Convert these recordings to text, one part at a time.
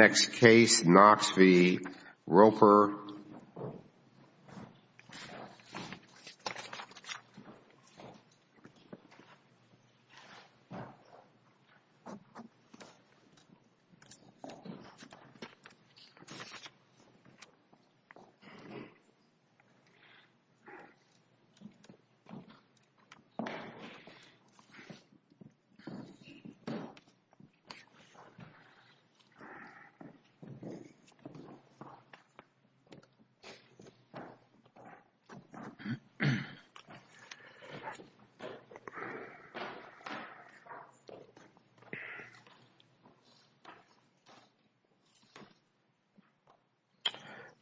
Next case, Knox v. Roper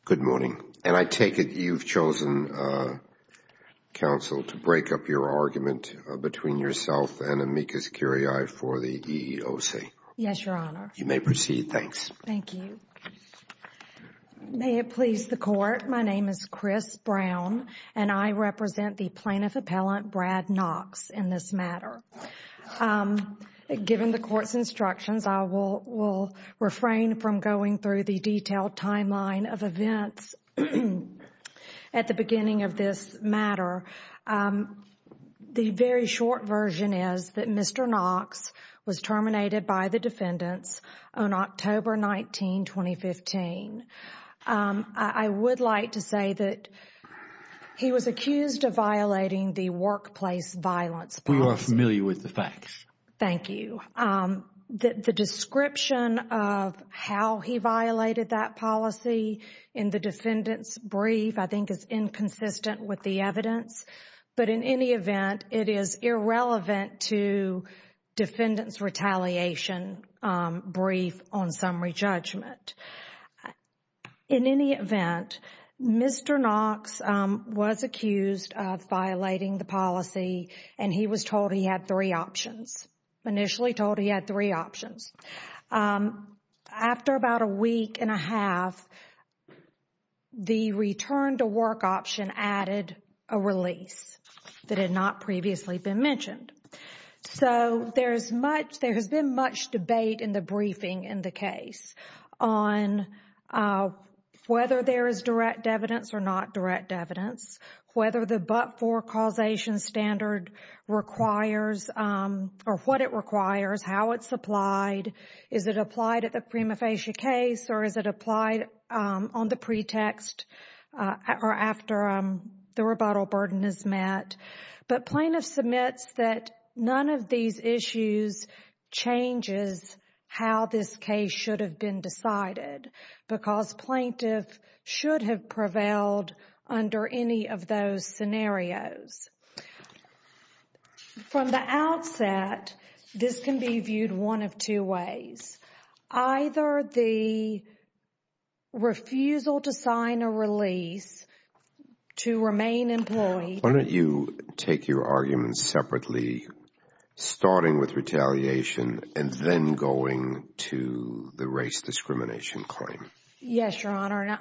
Good morning. And I take it you've chosen, Counsel, to break up your argument between yourself and Amicus Curiae for the EEOC? Yes, Your Honor. You may proceed. Thanks. Thank you. May it please the Court, my name is Chris Brown and I represent the Plaintiff Appellant Brad Knox in this matter. Given the Court's instructions, I will refrain from going through the detailed timeline of events at the beginning of this matter. The very brief description of how he violated that policy in the defendant's brief, I think, is inconsistent with the evidence. But in any event, it is irrelevant to defendant's brief on summary judgment. In any event, Mr. Knox was accused of violating the policy and he was told he had three options, initially told he had three options. After about a week and a half, the return to work option added a release that had not previously been mentioned. So there has been much debate in the briefing in the case on whether there is direct evidence or not direct evidence, whether the but-for causation standard requires or what it requires, how it's applied, is it applied at the prima facie case or is it applied on the pretext or after the rebuttal burden is met. But plaintiff submits that none of these issues changes how this case should have been decided because plaintiff should have prevailed under any of those scenarios. From the outset, this can be viewed one of two ways. Either the refusal to sign a release to remain employed. Why don't you take your arguments separately, starting with retaliation and then going to the race discrimination claim? Yes, Your Honor.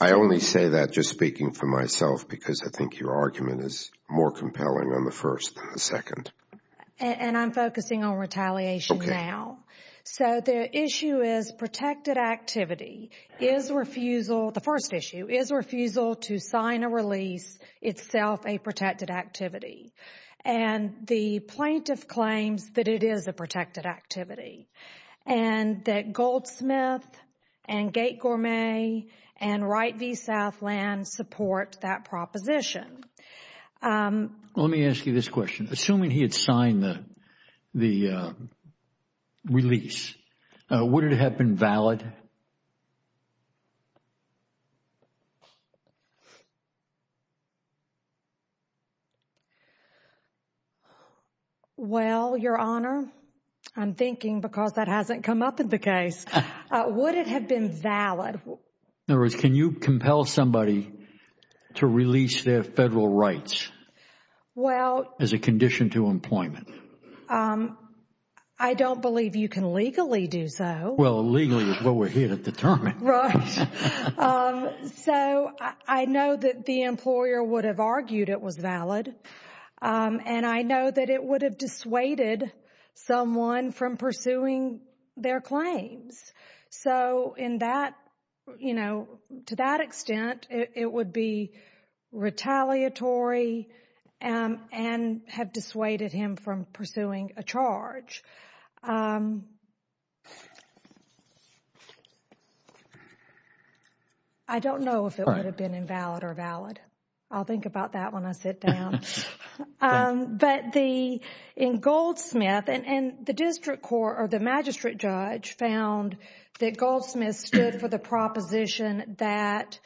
I only say that just speaking for myself because I think your argument is more compelling on the first than the second. And I'm focusing on retaliation now. So the issue is protected activity. Is refusal, the first issue, is refusal to sign a release itself a protected activity? And the plaintiff claims that it is a protected activity. And that Goldsmith and Gate Gourmet and Wright v. Southland support that proposition. Let me ask you this question. Assuming he had signed the release, would it have been valid? Well, Your Honor, I'm thinking because that hasn't come up in the case, would it have been valid? In other words, can you compel somebody to release their federal rights as a condition to employment? I don't believe you can legally do so. Well, legally is what we're here to determine. Right. So I know that the employer would have argued it was valid. And I know that it would have dissuaded someone from pursuing their claims. So in that, you know, to that extent, it would be retaliatory and have dissuaded him from pursuing a charge. I don't know if it would have been invalid or valid. I'll think about that when I sit down. But in Goldsmith, and the district court or the magistrate judge found that Goldsmith stood for the proposition that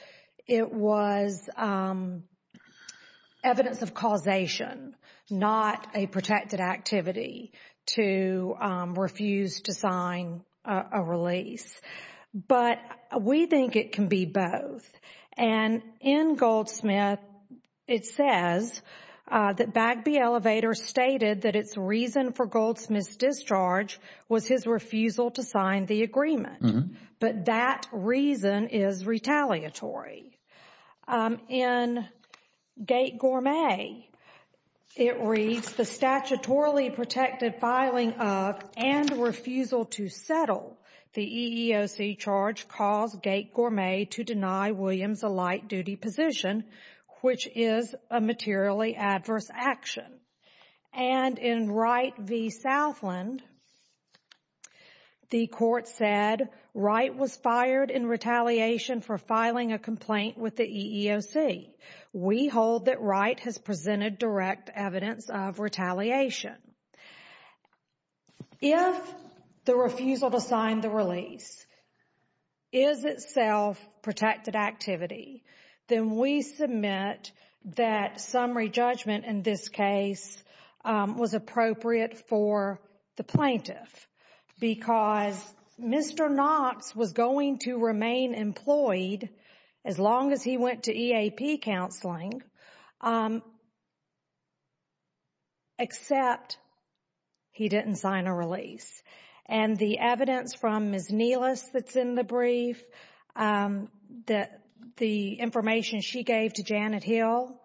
it was evidence of causation, not a protected activity to refuse to sign a release. But we think it can be both. And in Goldsmith, it says that Bagby Elevator stated that its reason for Goldsmith's discharge was his refusal to sign the agreement. But that reason is retaliatory. In Gate Gourmet, it reads, the statutorily protected filing of and refusal to settle the EEOC charge caused Gate Gourmet to deny Williams a light duty position, which is a materially adverse action. And in Wright v. Southland, the court said Wright was fired in retaliation for filing a complaint with the EEOC. We hold that Wright has presented direct evidence of retaliation. If the refusal to sign the release is itself protected activity, then we submit that summary judgment in this case was appropriate for the plaintiff. Because Mr. Knox was going to remain employed as long as he went to EAP counseling, except he didn't sign a release. And the evidence from Ms. Neelis that's in the brief, the information she gave to Janet Hill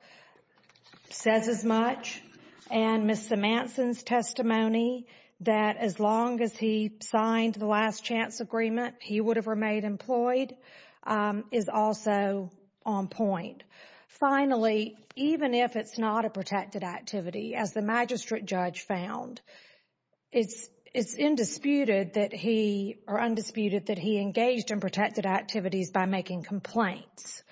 says as much. And Ms. Simanson's testimony that as long as he signed the last chance agreement, he would have remained employed is also on point. Finally, even if it's not a protected activity, as the magistrate judge found, it's undisputed that he engaged in protected activities by making complaints.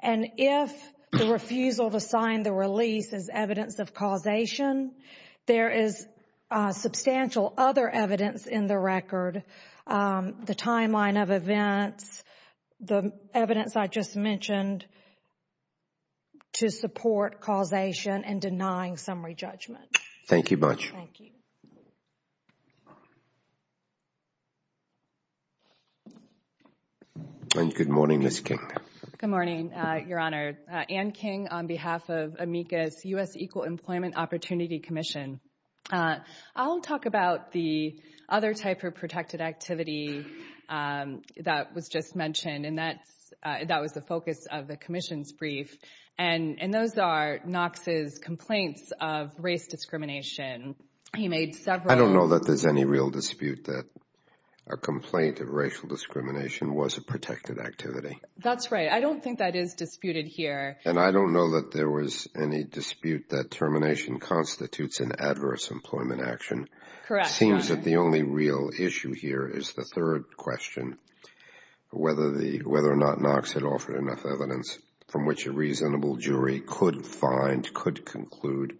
And if the refusal to sign the release is evidence of causation, there is substantial other evidence in the record, the timeline of events, the evidence I just mentioned to support causation and denying summary judgment. Thank you much. Thank you. And good morning, Ms. King. Good morning, Your Honor. Ann King on behalf of AMECA's U.S. Equal Employment Opportunity Commission. I'll talk about the other type of protected activity that was just mentioned, and that was the focus of the commission's brief. And those are Knox's complaints of race discrimination. He made several... A complaint of racial discrimination was a protected activity. That's right. I don't think that is disputed here. And I don't know that there was any dispute that termination constitutes an adverse employment action. Correct, Your Honor. Seems that the only real issue here is the third question, whether or not Knox had offered enough evidence from which a reasonable jury could find, could conclude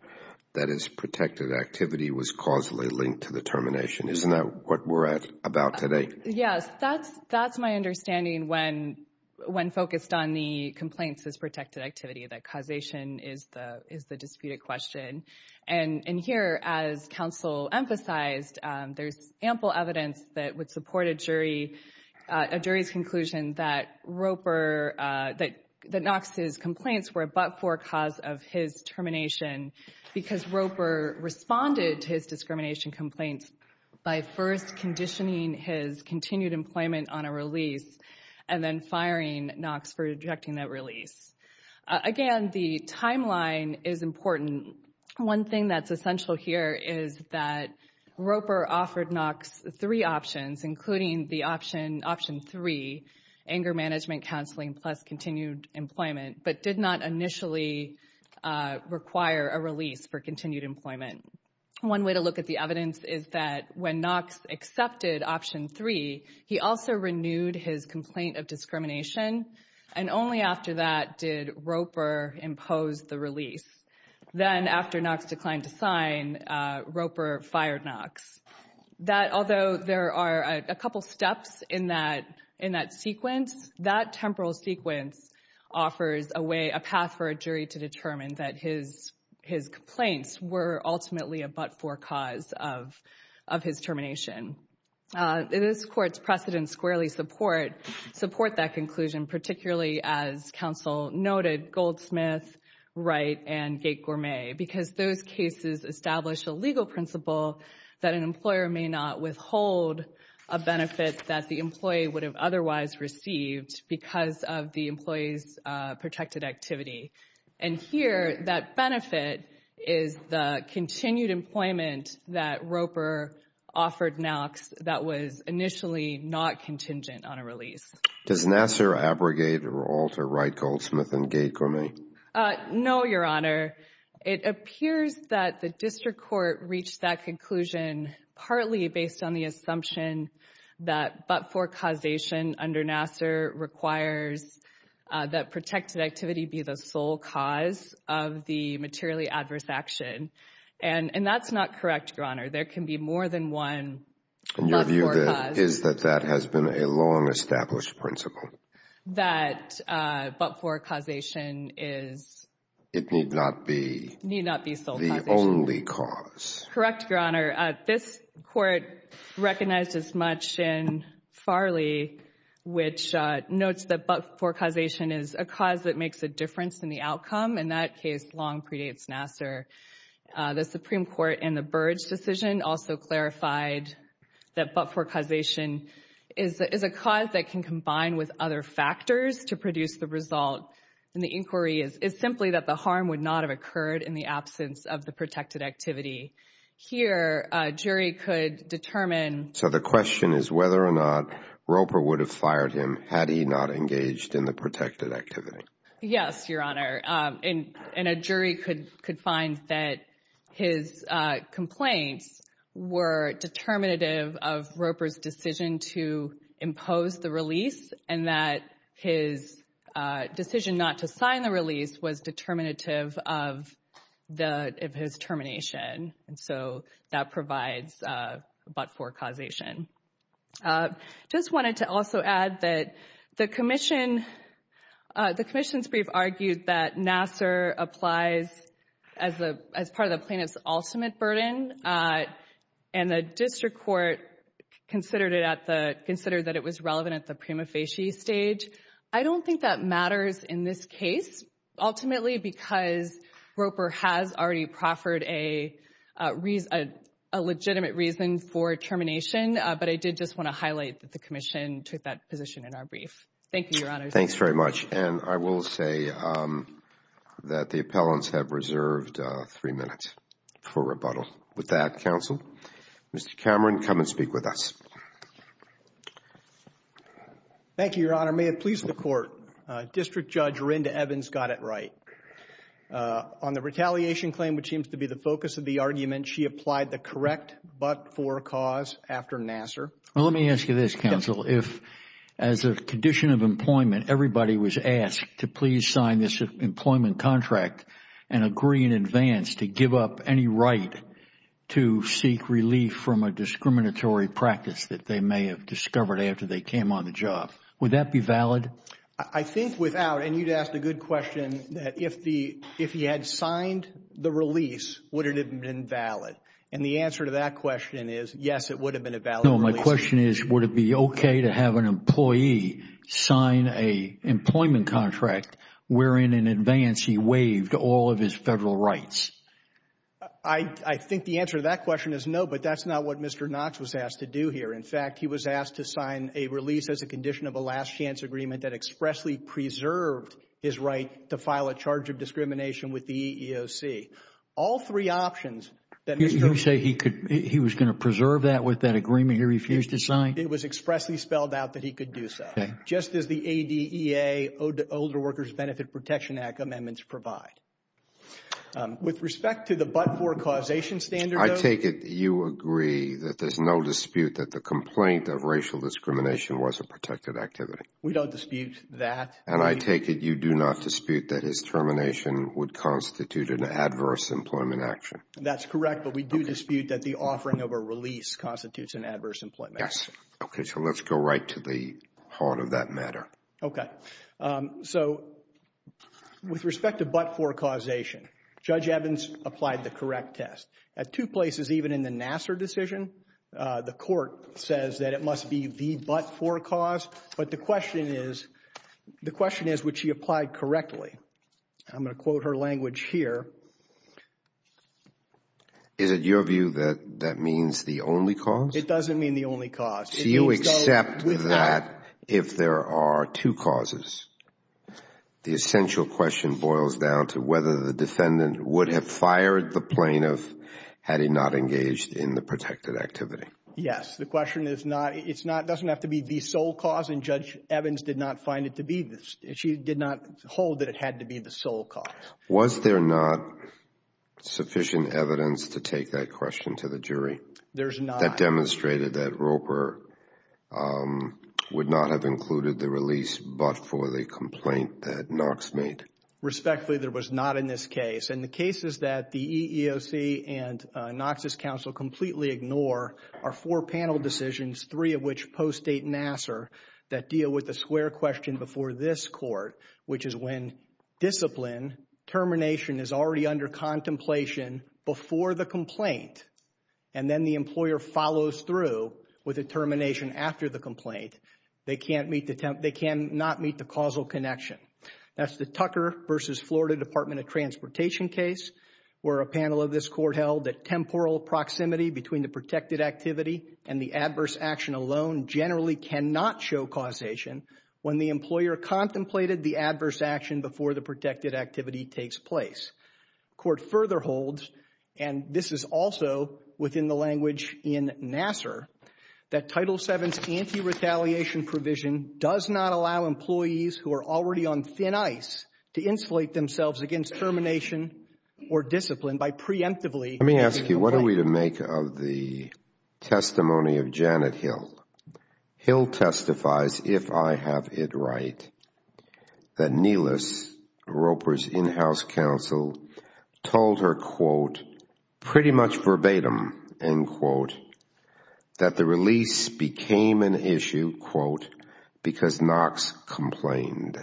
that his protected activity was causally linked to the termination. Isn't that what we're at about today? Yes. That's my understanding when focused on the complaints as protected activity, that causation is the disputed question. And here, as counsel emphasized, there's ample evidence that would support a jury's conclusion that Knox's complaints were a but-for cause of his termination, because Roper responded to his discrimination complaints by first conditioning his continued employment on a release, and then firing Knox for rejecting that release. Again, the timeline is important. One thing that's essential here is that Roper offered Knox three options, including the option three, anger management counseling plus continued employment, but did not initially require a release for continued employment. One way to look at the evidence is that when Knox accepted option three, he also renewed his complaint of discrimination, and only after that did Roper impose the release. Then after Knox declined to sign, Roper fired Knox. Although there are a couple steps in that sequence, that temporal sequence offers a path for a jury to determine that his complaints were ultimately a but-for cause of his termination. This Court's precedents squarely support that conclusion, particularly, as counsel noted, Goldsmith, Wright, and Gate-Gourmet, because those cases establish a legal principle that an employer may not withhold a benefit that the employee would have otherwise received because of the employee's protected activity. Here, that benefit is the continued employment that Roper offered Knox that was initially not contingent on a release. Does Nassar, Abrogate, or Alter, Wright, Goldsmith, and Gate-Gourmet? No, Your Honor. It appears that the District Court reached that conclusion partly based on the assumption that but-for causation under Nassar requires that protected activity be the sole cause of the materially adverse action, and that's not correct, Your Honor. There can be more than one but-for cause. And your view is that that has been a long-established principle? That but-for causation is... It need not be... Need not be sole causation. The only cause. Correct, Your Honor. This Court recognized as much in Farley, which notes that but-for causation is a cause that makes a difference in the outcome. In that case, long predates Nassar. The Supreme Court in the Burge decision also clarified that but-for causation is a cause that can combine with other factors to produce the result, and the inquiry is simply that the harm would not have occurred in the absence of the protected activity. Here, a jury could determine... So the question is whether or not Roper would have fired him had he not engaged in the protected activity. Yes, Your Honor. And a jury could find that his complaints were determinative of Roper's decision to impose the release, and that his decision not to sign the release was determinative of his termination. And so that provides a but-for causation. Just wanted to also add that the Commission's brief argued that Nassar applies as part of the case, and considered that it was relevant at the prima facie stage. I don't think that matters in this case, ultimately, because Roper has already proffered a legitimate reason for termination. But I did just want to highlight that the Commission took that position in our brief. Thank you, Your Honor. Thanks very much. And I will say that the appellants have reserved three minutes for rebuttal. With that, Counsel, Mr. Cameron, come and speak with us. Thank you, Your Honor. May it please the Court, District Judge Rinda Evans got it right. On the retaliation claim, which seems to be the focus of the argument, she applied the correct but-for cause after Nassar. Well, let me ask you this, Counsel. If, as a condition of employment, everybody was asked to please sign this employment contract and agree in advance to give up any right to seek relief from a discriminatory practice that they may have discovered after they came on the job, would that be valid? I think without, and you'd asked a good question, that if he had signed the release, would it have been valid? And the answer to that question is, yes, it would have been a valid release. No, my question is, would it be okay to have an employee sign a employment contract wherein in advance he waived all of his federal rights? I think the answer to that question is no, but that's not what Mr. Knox was asked to do here. In fact, he was asked to sign a release as a condition of a last-chance agreement that expressly preserved his right to file a charge of discrimination with the EEOC. All three options that Mr. Knox He was going to preserve that with that agreement he refused to sign? It was expressly spelled out that he could do so, just as the ADEA, Older Workers Benefit Protection Act amendments provide. With respect to the but-for causation standard, though... I take it you agree that there's no dispute that the complaint of racial discrimination was a protected activity? We don't dispute that. And I take it you do not dispute that his termination would constitute an adverse employment action? That's correct, but we do dispute that the offering of a release constitutes an adverse employment action. Okay, so let's go right to the heart of that matter. Okay. So, with respect to but-for causation, Judge Evans applied the correct test. At two places even in the Nassar decision, the court says that it must be the but-for cause, but the question is, the question is would she apply correctly? I'm going to quote her language here. Is it your view that that means the only cause? It doesn't mean the only cause. So you accept that if there are two causes, the essential question boils down to whether the defendant would have fired the plaintiff had he not engaged in the protected activity? Yes. The question is not, it's not, it doesn't have to be the sole cause, and Judge Evans did not find it to be, she did not hold that it had to be the sole cause. Was there not sufficient evidence to take that question to the jury? There's not. That demonstrated that Roper would not have included the release but-for the complaint that Knox made? Respectfully, there was not in this case, and the cases that the EEOC and Knox's counsel completely ignore are four panel decisions, three of which post-date Nassar, that deal with the square question before this court, which is when discipline termination is already under contemplation before the complaint, and then the employer follows through with a termination after the complaint, they can't meet the, they cannot meet the causal connection. That's the Tucker versus Florida Department of Transportation case, where a panel of this court held that temporal proximity between the protected activity and the adverse action alone generally cannot show causation when the employer contemplated the adverse action before the protected activity takes place. Court further holds, and this is also within the language in Nassar, that Title VII's anti-retaliation provision does not allow employees who are already on thin ice to insulate themselves against termination or discipline by preemptively meeting the complaint. Thank you. What are we to make of the testimony of Janet Hill? Hill testifies, if I have it right, that Nelis, Roper's in-house counsel, told her, quote, pretty much verbatim, end quote, that the release became an issue, quote, because Knox complained.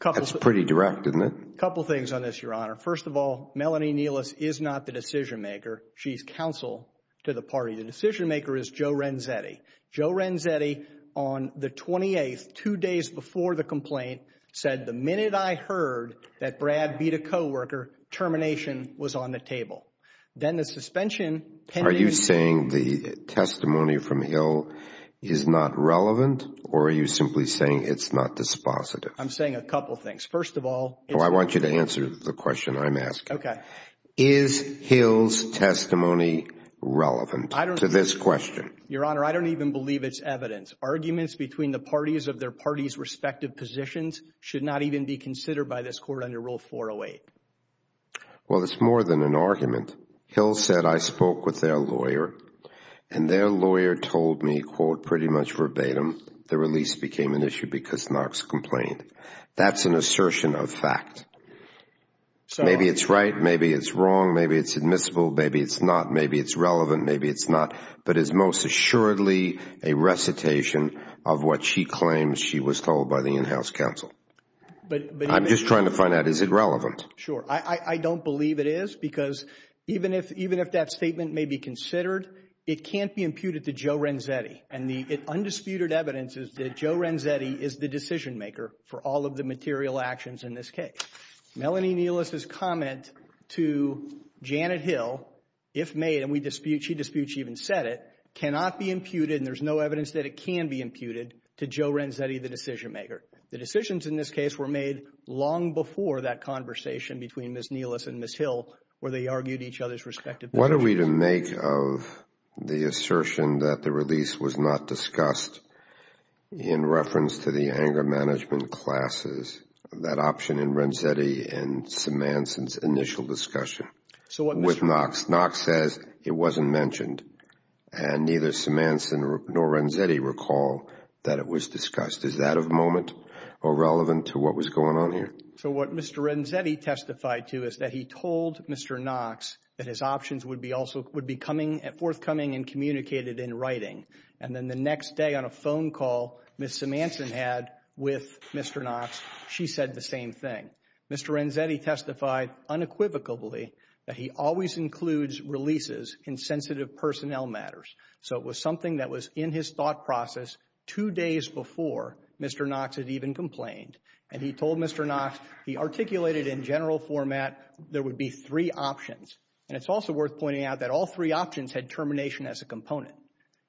That's pretty direct, isn't it? Couple things on this, Your Honor. First of all, Melanie Nelis is not the decision maker. She's counsel to the party. The decision maker is Joe Renzetti. Joe Renzetti, on the 28th, two days before the complaint, said, the minute I heard that Brad beat a co-worker, termination was on the table. Then the suspension... Are you saying the testimony from Hill is not relevant, or are you simply saying it's not dispositive? I'm saying a couple things. First of all... No, I want you to answer the question I'm asking. Is Hill's testimony relevant to this question? Your Honor, I don't even believe it's evidence. Arguments between the parties of their parties' respective positions should not even be considered by this court under Rule 408. Well, it's more than an argument. Hill said, I spoke with their lawyer, and their lawyer told me, quote, pretty much verbatim, the release became an issue because Knox complained. That's an assertion of fact. Maybe it's right. Maybe it's wrong. Maybe it's admissible. Maybe it's not. Maybe it's relevant. Maybe it's not. But it's most assuredly a recitation of what she claims she was told by the in-house counsel. I'm just trying to find out, is it relevant? Sure. I don't believe it is, because even if that statement may be considered, it can't be imputed to Joe Renzetti, and the undisputed evidence is that Joe Renzetti is the decision maker for all of the material actions in this case. Melanie Nelis' comment to Janet Hill, if made, and she disputes she even said it, cannot be imputed, and there's no evidence that it can be imputed, to Joe Renzetti, the decision maker. The decisions in this case were made long before that conversation between Ms. Nelis and Ms. Hill, where they argued each other's respective positions. What are we to make of the assertion that the release was not discussed in reference to the anger management classes, that option in Renzetti and Simansen's initial discussion with Knox? Knox says it wasn't mentioned, and neither Simansen nor Renzetti recall that it was discussed. Is that of moment or relevant to what was going on here? So what Mr. Renzetti testified to is that he told Mr. Knox that his options would be forthcoming and communicated in writing, and then the next day on a phone call, Ms. Simansen had with Mr. Knox, she said the same thing. Mr. Renzetti testified unequivocally that he always includes releases in sensitive personnel matters, so it was something that was in his thought process two days before Mr. Knox had even complained, and he told Mr. Knox he articulated in general format there would be three options, and it's also worth pointing out that all three options had termination as a component.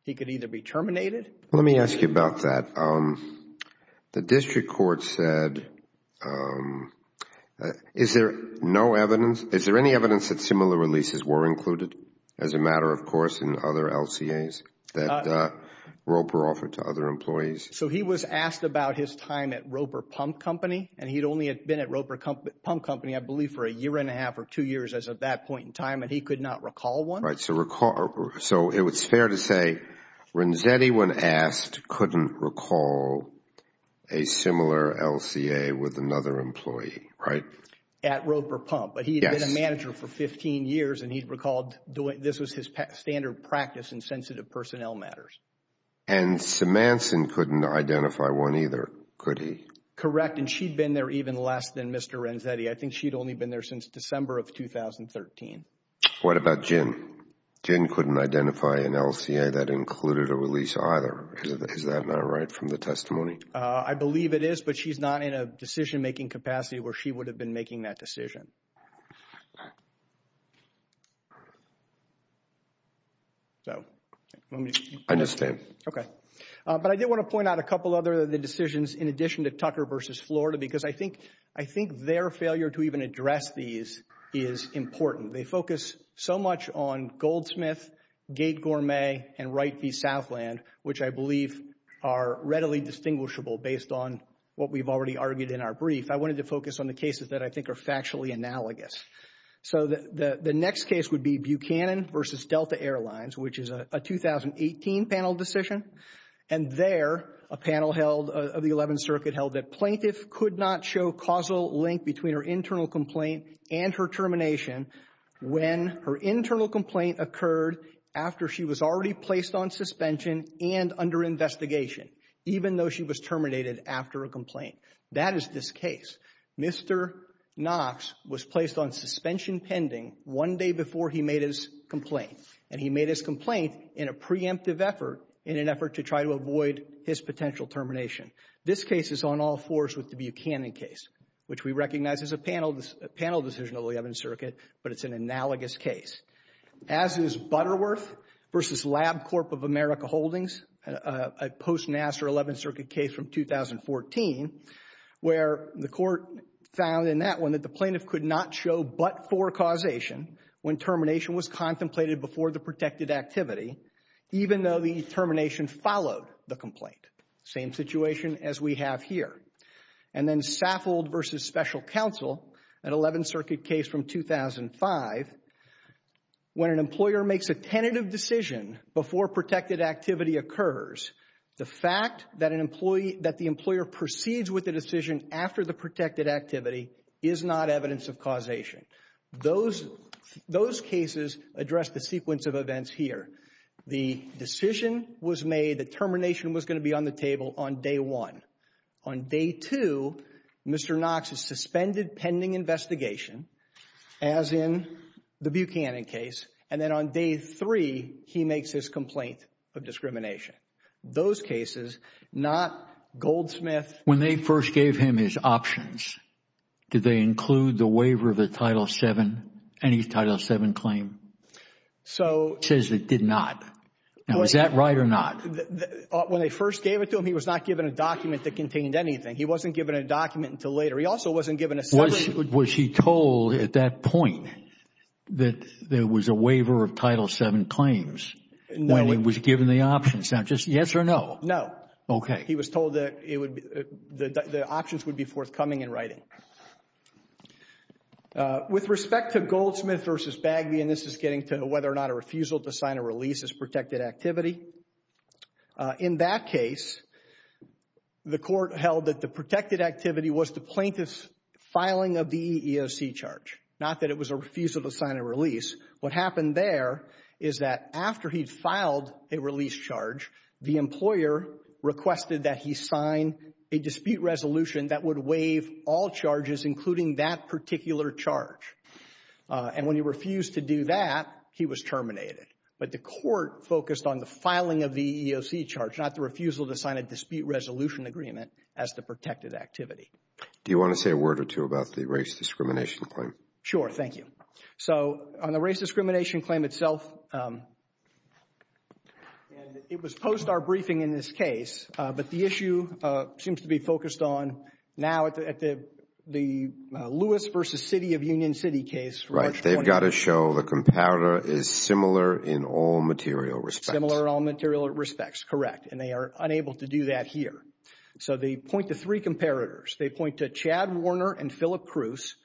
He could either be terminated. Let me ask you about that. The district court said, is there no evidence, is there any evidence that similar releases were included as a matter of course in other LCAs that Roper offered to other employees? So he was asked about his time at Roper Pump Company, and he'd only been at Roper Pump Company I believe for a year and a half or two years as of that point in time, and he could not recall one. So it's fair to say Renzetti, when asked, couldn't recall a similar LCA with another employee, right? At Roper Pump, but he had been a manager for 15 years, and he recalled this was his standard practice in sensitive personnel matters. And Simansen couldn't identify one either, could he? Correct, and she'd been there even less than Mr. Renzetti. I think she'd only been there since December of 2013. What about Gin? Gin couldn't identify an LCA that included a release either. Is that not right from the testimony? I believe it is, but she's not in a decision-making capacity where she would have been making that decision. So, let me... I understand. Okay. But I did want to point out a couple other decisions in addition to Tucker v. Florida, because I think their failure to even address these is important. They focus so much on Goldsmith, Gate Gourmet, and Wright v. Southland, which I believe are readily distinguishable based on what we've already argued in our brief. I wanted to focus on the cases that I think are factually analogous. So the next case would be Buchanan v. Delta Airlines, which is a 2018 panel decision. And there, a panel held of the 11th Circuit held that plaintiff could not show causal link between her internal complaint and her termination when her internal complaint occurred after she was already placed on suspension and under investigation, even though she was terminated after a complaint. That is this case. Mr. Knox was placed on suspension pending one day before he made his complaint. And he made his complaint in a preemptive effort, in an effort to try to avoid his potential termination. This case is on all fours with the Buchanan case, which we recognize is a panel decision of the 11th Circuit, but it's an analogous case. As is Butterworth v. Lab Corp. of America Holdings, a post-NASA or 11th Circuit case from 2014, where the court found in that one that the plaintiff could not show but-for causation when termination was contemplated before the protected activity, even though the termination followed the complaint. Same situation as we have here. And then Saffold v. Special Counsel, an 11th Circuit case from 2005, when an employer makes a tentative decision before protected activity occurs, the fact that the employer proceeds with the decision after the protected activity is not evidence of causation. Those cases address the sequence of events here. The decision was made that termination was going to be on the table on day one. On day two, Mr. Knox is suspended pending investigation, as in the Buchanan case. And then on day three, he makes his complaint of discrimination. Those cases, not Goldsmith. When they first gave him his options, did they include the waiver of the Title VII, any Title VII claim? So- It says it did not. Now, is that right or not? When they first gave it to him, he was not given a document that contained anything. He wasn't given a document until later. He also wasn't given a summary- Was he told at that point that there was a waiver of Title VII claims when he was given the options? Now, just yes or no? No. Okay. He was told that the options would be forthcoming in writing. With respect to Goldsmith v. Bagby, and this is getting to whether or not a refusal to sign a release is protected activity, in that case, the court held that the protected activity was the plaintiff's filing of the EEOC charge, not that it was a refusal to sign a release. What happened there is that after he'd filed a release charge, the employer requested that he sign a dispute resolution that would waive all charges, including that particular charge. And when he refused to do that, he was terminated. But the court focused on the filing of the EEOC charge, not the refusal to sign a dispute resolution agreement as the protected activity. Do you want to say a word or two about the race discrimination claim? Sure. Thank you. So, on the race discrimination claim itself, and it was post our briefing in this case, but the issue seems to be focused on now at the Lewis v. City of Union City case. Right. They've got to show the comparator is similar in all material respects. Similar in all material respects. Correct. And they are unable to do that here. So they point to three comparators. They point to Chad Warner and Philip Cruz,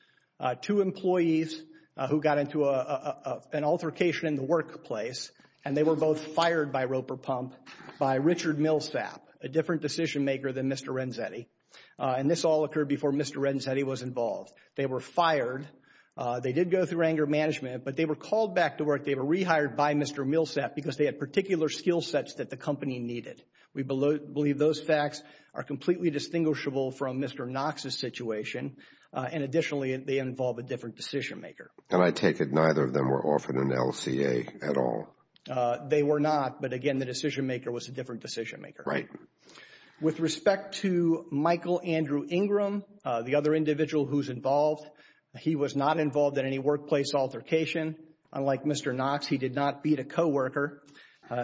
two employees who got into an altercation in the workplace, and they were both fired by Roper Pump by Richard Millsap, a different decision maker than Mr. Renzetti. And this all occurred before Mr. Renzetti was involved. They were fired. They did go through anger management, but they were called back to work. They were rehired by Mr. Millsap because they had particular skill sets that the company needed. We believe those facts are completely distinguishable from Mr. Knox's situation. And additionally, they involve a different decision maker. And I take it neither of them were offered an LCA at all. They were not. But again, the decision maker was a different decision maker. Right. With respect to Michael Andrew Ingram, the other individual who's involved, he was not involved in any workplace altercation. Unlike Mr. Knox, he did not beat a co-worker.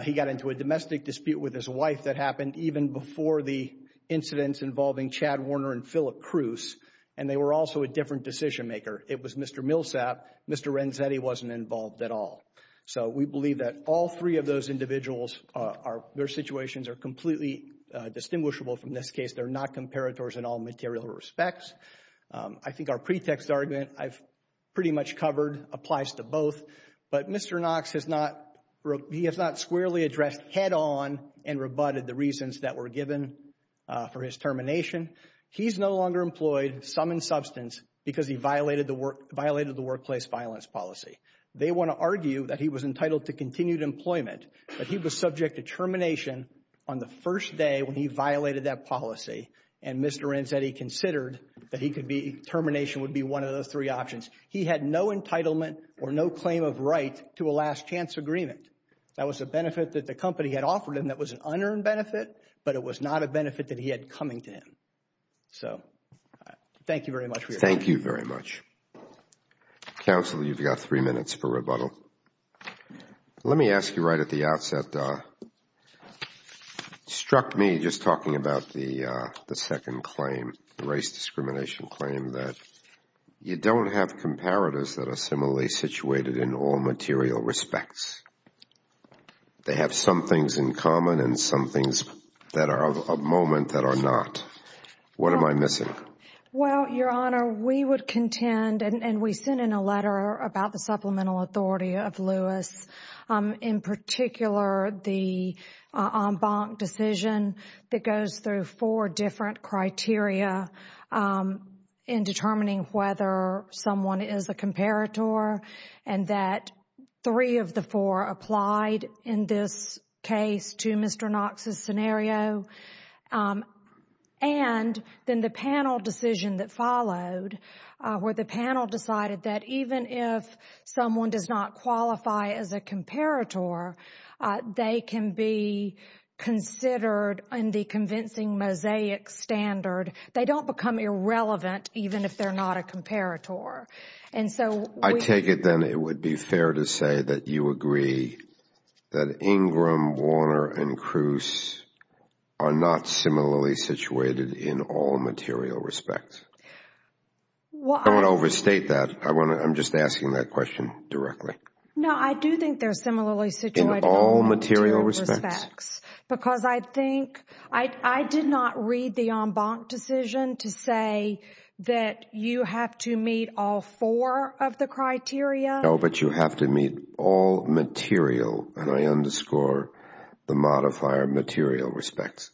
He got into a domestic dispute with his wife that happened even before the incidents involving Chad Warner and Philip Cruz. And they were also a different decision maker. It was Mr. Millsap. Mr. Renzetti wasn't involved at all. So we believe that all three of those individuals, their situations are completely distinguishable from this case. They're not comparators in all material respects. I think our pretext argument I've pretty much covered applies to both. But Mr. Knox has not, he has not squarely addressed head on and rebutted the reasons that were given for his termination. He's no longer employed, some in substance, because he violated the workplace violence policy. They want to argue that he was entitled to continued employment, but he was subject to termination on the first day when he violated that policy. And Mr. Renzetti considered that termination would be one of those three options. He had no entitlement or no claim of right to a last chance agreement. That was a benefit that the company had offered him that was an unearned benefit, but it was not a benefit that he had coming to him. So thank you very much for your time. Thank you very much. Counsel, you've got three minutes for rebuttal. Let me ask you right at the outset, it struck me just talking about the second claim, the race discrimination claim, that you don't have comparators that are similarly situated in all material respects. They have some things in common and some things that are of a moment that are not. What am I missing? Well, Your Honor, we would contend, and we sent in a letter about the supplemental authority of Lewis, in particular the en banc decision that goes through four different criteria in determining whether someone is a comparator, and that three of the four applied in this case to Mr. Knox's scenario. And then the panel decision that followed, where the panel decided that even if someone does not qualify as a comparator, they can be considered in the convincing mosaic standard, they don't become irrelevant even if they're not a comparator. And so we I take it then it would be fair to say that you agree that Ingram, Warner, and Kruse are not similarly situated in all material respects. I don't want to overstate that, I'm just asking that question directly. No, I do think they're similarly situated in all material respects. Because I think, I did not read the en banc decision to say that you have to meet all four of the criteria. No, but you have to meet all material, and I underscore the modifier material respects.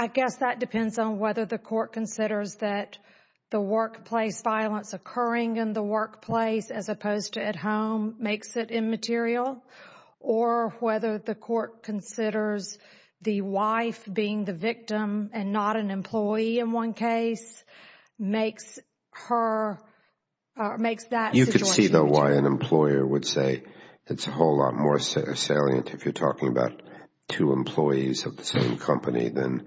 I guess that depends on whether the court considers that the workplace violence occurring in the workplace as opposed to at home makes it immaterial, or whether the court considers the wife being the victim and not an employee in one case makes that situation immaterial. You could see though why an employer would say it's a whole lot more salient if you're talking about two employees of the same company than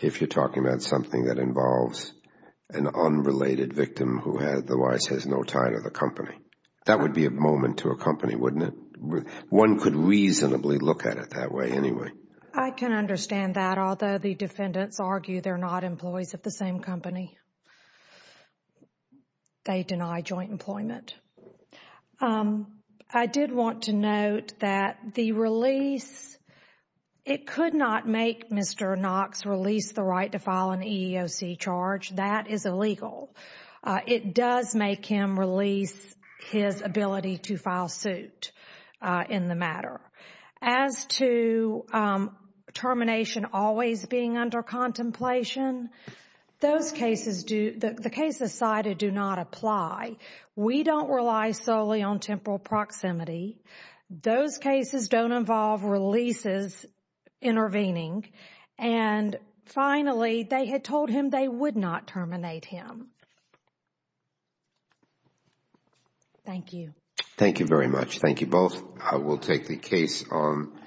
if you're talking about something that is no tie to the company. That would be a moment to a company, wouldn't it? One could reasonably look at it that way anyway. I can understand that, although the defendants argue they're not employees of the same company. They deny joint employment. I did want to note that the release, it could not make Mr. Knox release the right to file an EEOC charge. That is illegal. It does make him release his ability to file suit in the matter. As to termination always being under contemplation, the cases cited do not apply. We don't rely solely on temporal proximity. Those cases don't involve releases intervening, and finally, they had told him they would not terminate him. Thank you. Thank you very much. Thank you both. I will take the case on.